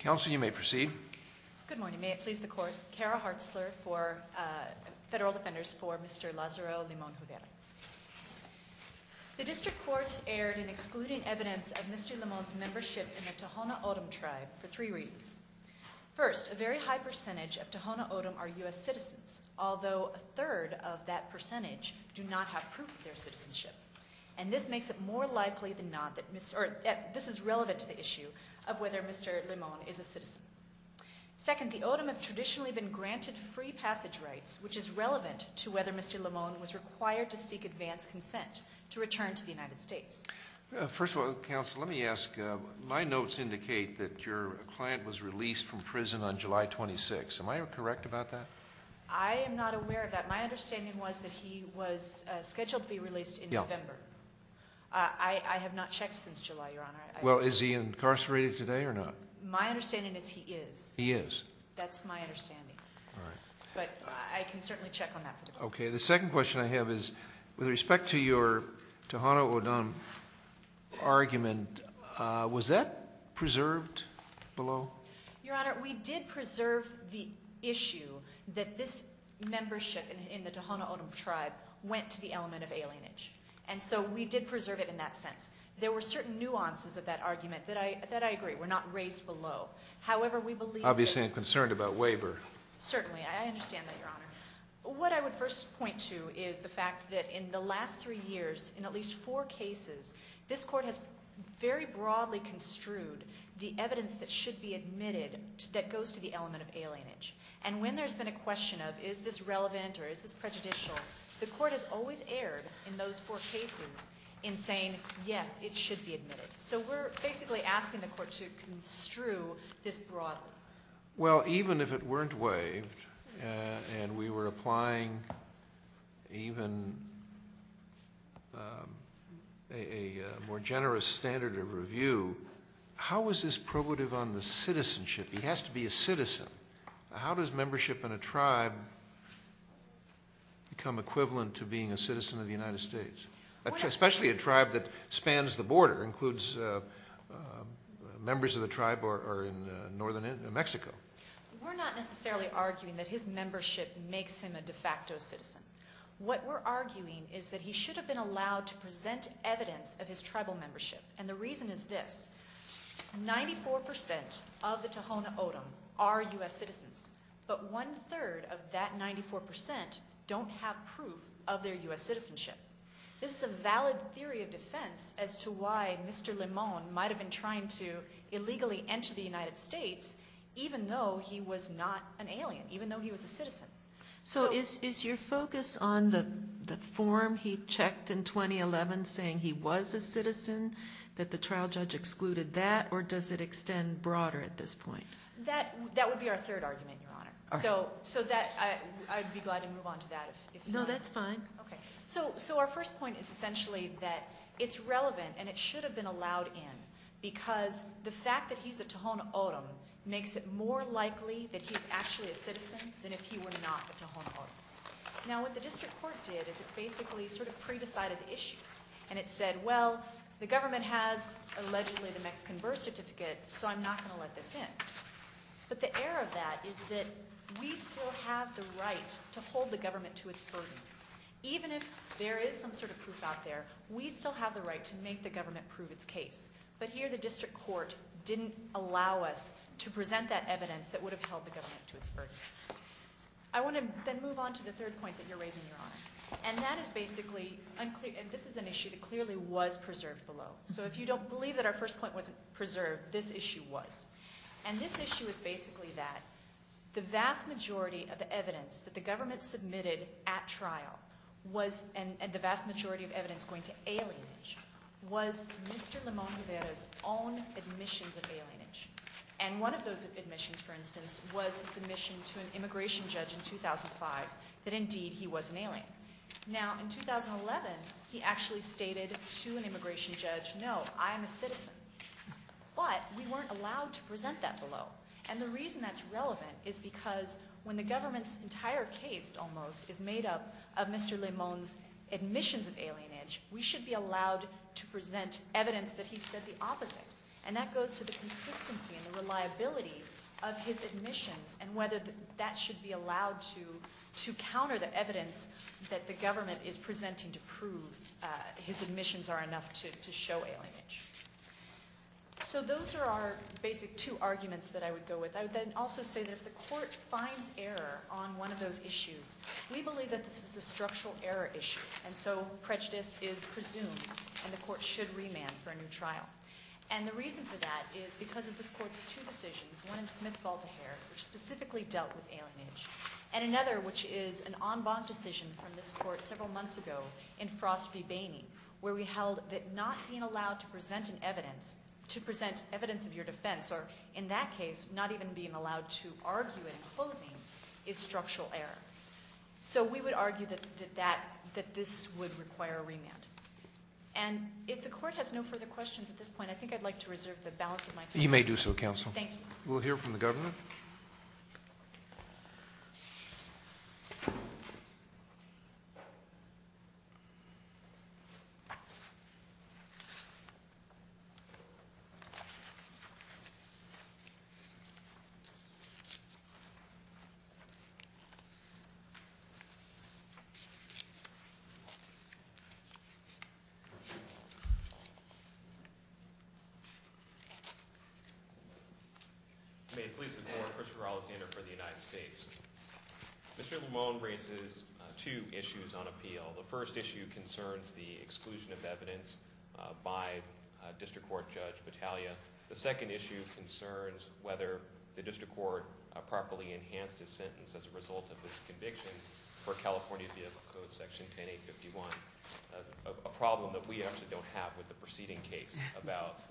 Counsel, you may proceed. Good morning. May it please the Court, Cara Hartzler for Federal Defenders for Mr. Lazaro Limon-Juvera. The District Court erred in excluding evidence of Mr. Limon's membership in the Tohono O'odham Tribe for three reasons. First, a very high percentage of Tohono O'odham are U.S. citizens, although a third of that percentage do not have proof of their citizenship. And this is relevant to the issue of whether Mr. Limon is a citizen. Second, the O'odham have traditionally been granted free passage rights, which is relevant to whether Mr. Limon was required to seek advance consent to return to the United States. First of all, Counsel, let me ask, my notes indicate that your client was released from prison on July 26. Am I correct about that? I am not aware of that. My understanding was that he was scheduled to be released in November. I have not checked since July, Your Honor. Well, is he incarcerated today or not? My understanding is he is. He is. That's my understanding. All right. But I can certainly check on that for the Court. Okay. The second question I have is, with respect to your Tohono O'odham argument, was that preserved below? Your Honor, we did preserve the issue that this membership in the Tohono O'odham Tribe went to the element of alienage. And so we did preserve it in that sense. There were certain nuances of that argument that I agree were not raised below. However, we believe that— Obviously, I'm concerned about waiver. Certainly. I understand that, Your Honor. What I would first point to is the fact that in the last three years, in at least four cases, this Court has very broadly construed the evidence that should be admitted that goes to the element of alienage. And when there's been a question of is this relevant or is this prejudicial, the Court has always erred in those four cases in saying, yes, it should be admitted. So we're basically asking the Court to construe this broadly. Well, even if it weren't waived and we were applying even a more generous standard of review, how is this probative on the citizenship? He has to be a citizen. How does membership in a tribe become equivalent to being a citizen of the United States? Especially a tribe that spans the border, includes members of the tribe who are in northern Mexico. We're not necessarily arguing that his membership makes him a de facto citizen. What we're arguing is that he should have been allowed to present evidence of his tribal membership. And the reason is this. Ninety-four percent of the Tohono O'odham are U.S. citizens. But one-third of that 94% don't have proof of their U.S. citizenship. This is a valid theory of defense as to why Mr. Limon might have been trying to illegally enter the United States, even though he was not an alien, even though he was a citizen. So is your focus on the form he checked in 2011 saying he was a citizen, that the trial judge excluded that, or does it extend broader at this point? That would be our third argument, Your Honor. So I'd be glad to move on to that. No, that's fine. Okay. So our first point is essentially that it's relevant and it should have been allowed in because the fact that he's a Tohono O'odham makes it more likely that he's actually a citizen than if he were not a Tohono O'odham. Now, what the district court did is it basically sort of pre-decided the issue. And it said, well, the government has allegedly the Mexican birth certificate, so I'm not going to let this in. But the error of that is that we still have the right to hold the government to its burden. Even if there is some sort of proof out there, we still have the right to make the government prove its case. But here the district court didn't allow us to present that evidence that would have held the government to its burden. I want to then move on to the third point that you're raising, Your Honor. And that is basically unclear. And this is an issue that clearly was preserved below. So if you don't believe that our first point wasn't preserved, this issue was. And this issue is basically that the vast majority of the evidence that the government submitted at trial and the vast majority of evidence going to alienage was Mr. Limón Rivera's own admissions of alienage. And one of those admissions, for instance, was submission to an immigration judge in 2005 that indeed he was an alien. Now, in 2011, he actually stated to an immigration judge, no, I am a citizen. But we weren't allowed to present that below. And the reason that's relevant is because when the government's entire case, almost, is made up of Mr. Limón's admissions of alienage, we should be allowed to present evidence that he said the opposite. And that goes to the consistency and the reliability of his admissions and whether that should be allowed to counter the evidence that the government is presenting to prove his admissions are enough to show alienage. So those are our basic two arguments that I would go with. I would then also say that if the court finds error on one of those issues, we believe that this is a structural error issue. And so prejudice is presumed, and the court should remand for a new trial. And the reason for that is because of this court's two decisions, one in Smith-Baltiher, which specifically dealt with alienage, and another, which is an en banc decision from this court several months ago in Frost v. Bainey, where we held that not being allowed to present evidence of your defense, or in that case, not even being allowed to argue it in closing, is structural error. So we would argue that this would require a remand. And if the court has no further questions at this point, I think I'd like to reserve the balance of my time. You may do so, counsel. Thank you. We'll hear from the government. Thank you. May it please the court, Christopher Alexander for the United States. Mr. Lamone raises two issues on appeal. The first issue concerns the exclusion of evidence by District Court Judge Battaglia. The second issue concerns whether the District Court properly enhanced his sentence as a result of this conviction for California vehicle code section 10-851, a problem that we actually don't have with the preceding case about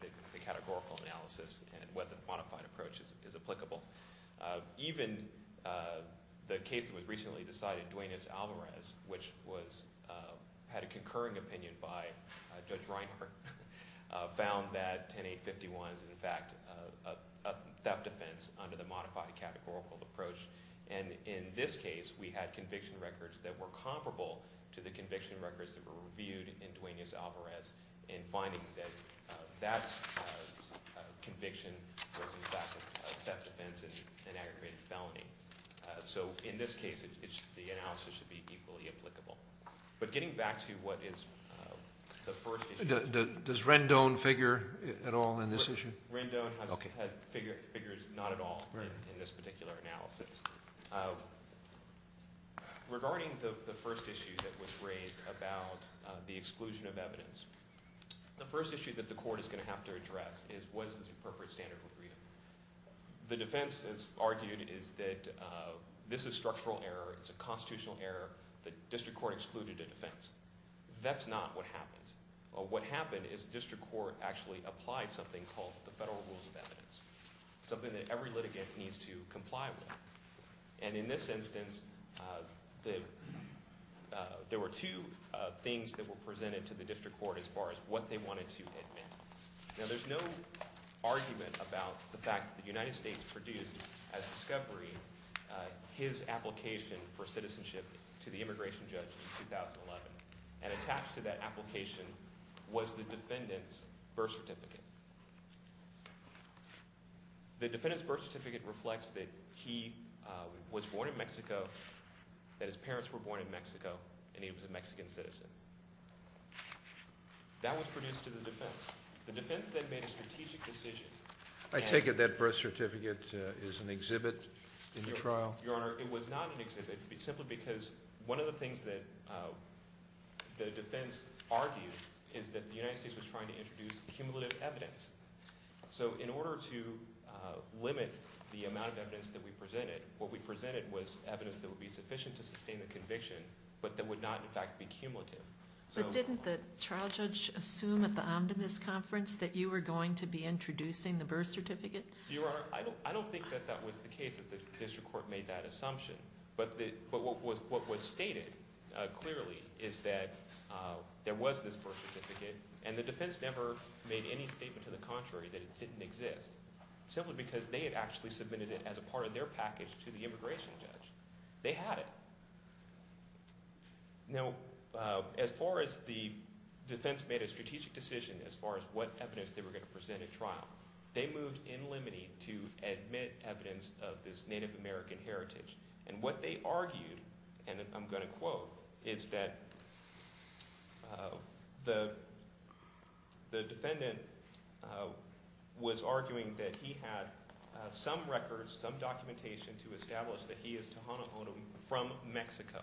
the categorical analysis and whether the modified approach is applicable. Even the case that was recently decided, Duenas-Alvarez, which had a concurring opinion by Judge Reinhart, found that 10-851 is, in fact, a theft offense under the modified categorical approach. And in this case, we had conviction records that were comparable to the conviction records that were reviewed in Duenas-Alvarez in finding that that conviction was, in fact, a theft offense and aggravated felony. So in this case, the analysis should be equally applicable. But getting back to what is the first issue. Does Rendon figure at all in this issue? Rendon has figures not at all in this particular analysis. Regarding the first issue that was raised about the exclusion of evidence, the first issue that the court is going to have to address is what is the appropriate standard of freedom. The defense has argued that this is structural error. It's a constitutional error. The District Court excluded a defense. That's not what happened. What happened is the District Court actually applied something called the Federal Rules of Evidence, something that every litigant needs to comply with. And in this instance, there were two things that were presented to the District Court as far as what they wanted to admit. Now there's no argument about the fact that the United States produced, as discovery, his application for citizenship to the immigration judge in 2011 and attached to that application was the defendant's birth certificate. The defendant's birth certificate reflects that he was born in Mexico, that his parents were born in Mexico, and he was a Mexican citizen. That was produced to the defense. The defense then made a strategic decision. I take it that birth certificate is an exhibit in the trial? Your Honor, it was not an exhibit simply because one of the things that the defense argued is that the United States was trying to introduce cumulative evidence. So in order to limit the amount of evidence that we presented, what we presented was evidence that would be sufficient to sustain the conviction, but that would not, in fact, be cumulative. But didn't the trial judge assume at the Omnibus Conference that you were going to be introducing the birth certificate? Your Honor, I don't think that that was the case that the district court made that assumption. But what was stated clearly is that there was this birth certificate, and the defense never made any statement to the contrary that it didn't exist, simply because they had actually submitted it as a part of their package to the immigration judge. They had it. Now as far as the defense made a strategic decision as far as what evidence they were going to present at trial, they moved in limine to admit evidence of this Native American heritage. And what they argued, and I'm going to quote, is that the defendant was arguing that he had some records, some documentation to establish that he is Tohono O'odham from Mexico,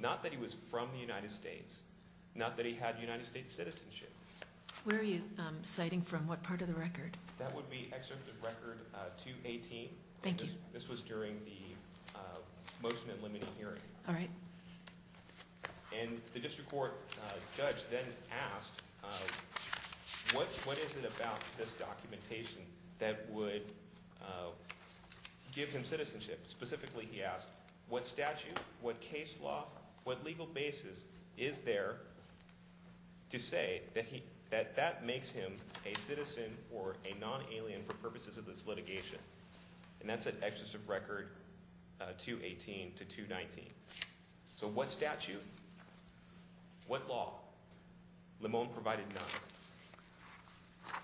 not that he was from the United States, not that he had United States citizenship. Where are you citing from? What part of the record? That would be Excerpt of Record 218. Thank you. This was during the motion and limiting hearing. All right. And the district court judge then asked, what is it about this documentation that would give him citizenship? Specifically, he asked, what statute, what case law, what legal basis is there to say that that makes him a citizen or a non-alien for purposes of this litigation? And that's at Excerpt of Record 218 to 219. So what statute? What law? Limone provided none.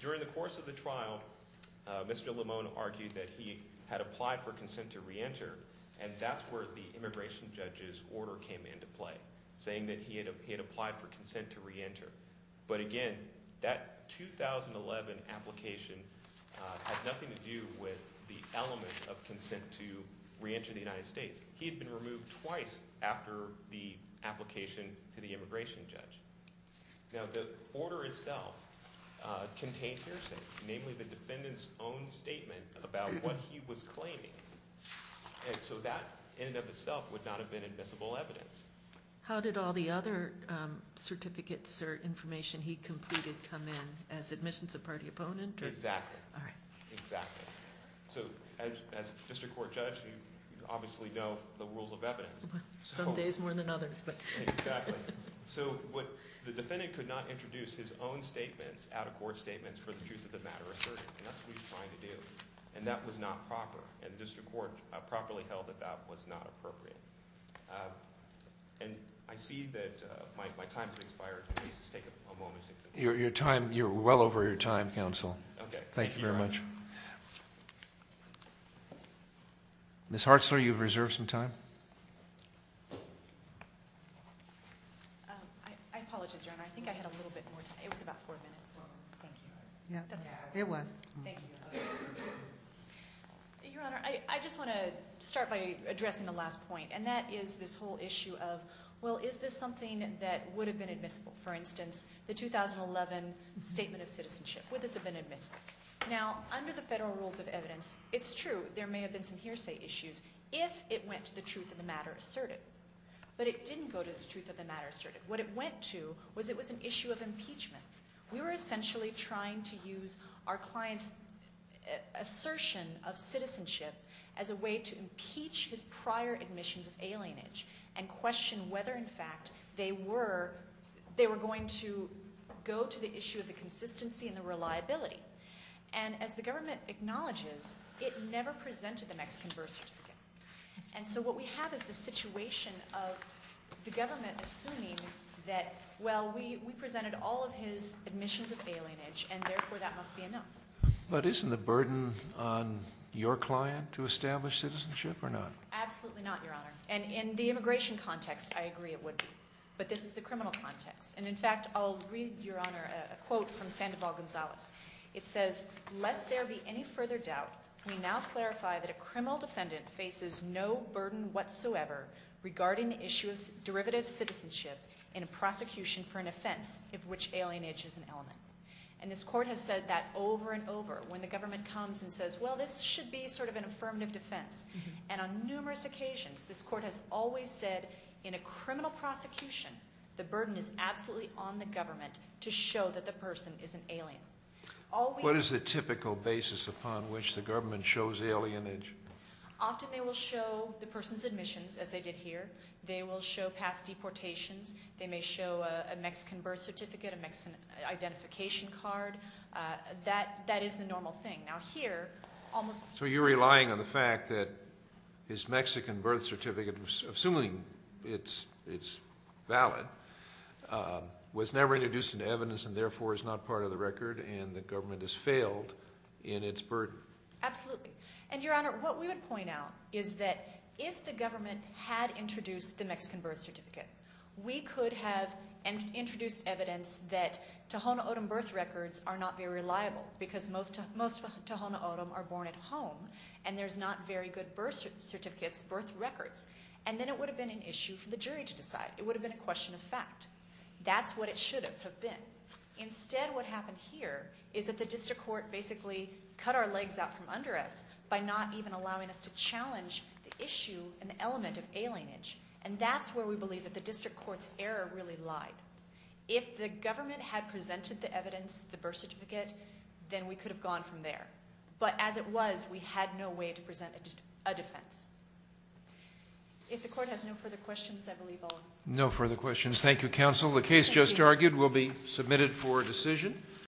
During the course of the trial, Mr. Limone argued that he had applied for consent to reenter, and that's where the immigration judge's order came into play, saying that he had applied for consent to reenter. But again, that 2011 application had nothing to do with the element of consent to reenter the United States. He had been removed twice after the application to the immigration judge. Now, the order itself contained hearsay, namely the defendant's own statement about what he was claiming. And so that, in and of itself, would not have been admissible evidence. How did all the other certificates or information he completed come in as admissions of party opponent? Exactly. All right. Exactly. So as a district court judge, you obviously know the rules of evidence. Some days more than others. Exactly. So the defendant could not introduce his own statements, out-of-court statements, for the truth of the matter asserted, and that's what he was trying to do, and that was not proper, and the district court properly held that that was not appropriate. And I see that my time has expired. Please just take a moment. You're well over your time, counsel. Okay. Thank you very much. Ms. Hartzler, you have reserved some time. I apologize, Your Honor. I think I had a little bit more time. It was about four minutes. Thank you. It was. Thank you. Your Honor, I just want to start by addressing the last point, and that is this whole issue of, well, is this something that would have been admissible? For instance, the 2011 statement of citizenship, would this have been admissible? Now, under the federal rules of evidence, it's true, there may have been some hearsay issues, if it went to the truth of the matter asserted. But it didn't go to the truth of the matter asserted. What it went to was it was an issue of impeachment. We were essentially trying to use our client's assertion of citizenship as a way to impeach his prior admissions of alienage and question whether, in fact, they were going to go to the issue of the consistency and the reliability. And as the government acknowledges, it never presented the Mexican birth certificate. And so what we have is the situation of the government assuming that, well, we presented all of his admissions of alienage, and therefore that must be enough. But isn't the burden on your client to establish citizenship or not? Absolutely not, Your Honor. And in the immigration context, I agree it would be. But this is the criminal context. And, in fact, I'll read, Your Honor, a quote from Sandoval Gonzalez. It says, Lest there be any further doubt, we now clarify that a criminal defendant faces no burden whatsoever regarding the issue of derivative citizenship in a prosecution for an offense of which alienage is an element. And this court has said that over and over when the government comes and says, well, this should be sort of an affirmative defense. And on numerous occasions this court has always said in a criminal prosecution the burden is absolutely on the government to show that the person is an alien. What is the typical basis upon which the government shows alienage? Often they will show the person's admissions, as they did here. They will show past deportations. They may show a Mexican birth certificate, a Mexican identification card. That is the normal thing. So you're relying on the fact that his Mexican birth certificate, assuming it's valid, was never introduced into evidence and therefore is not part of the record and the government has failed in its burden. Absolutely. And, Your Honor, what we would point out is that if the government had introduced the Mexican birth certificate, we could have introduced evidence that Tohono O'odham birth records are not very reliable because most Tohono O'odham are born at home and there's not very good birth certificates, birth records. And then it would have been an issue for the jury to decide. It would have been a question of fact. That's what it should have been. Instead what happened here is that the district court basically cut our legs out from under us by not even allowing us to challenge the issue and the element of alienage. And that's where we believe that the district court's error really lied. If the government had presented the evidence, the birth certificate, then we could have gone from there. But as it was, we had no way to present a defense. If the court has no further questions, I believe I'll end. No further questions. Thank you, counsel. The case just argued will be submitted for decision.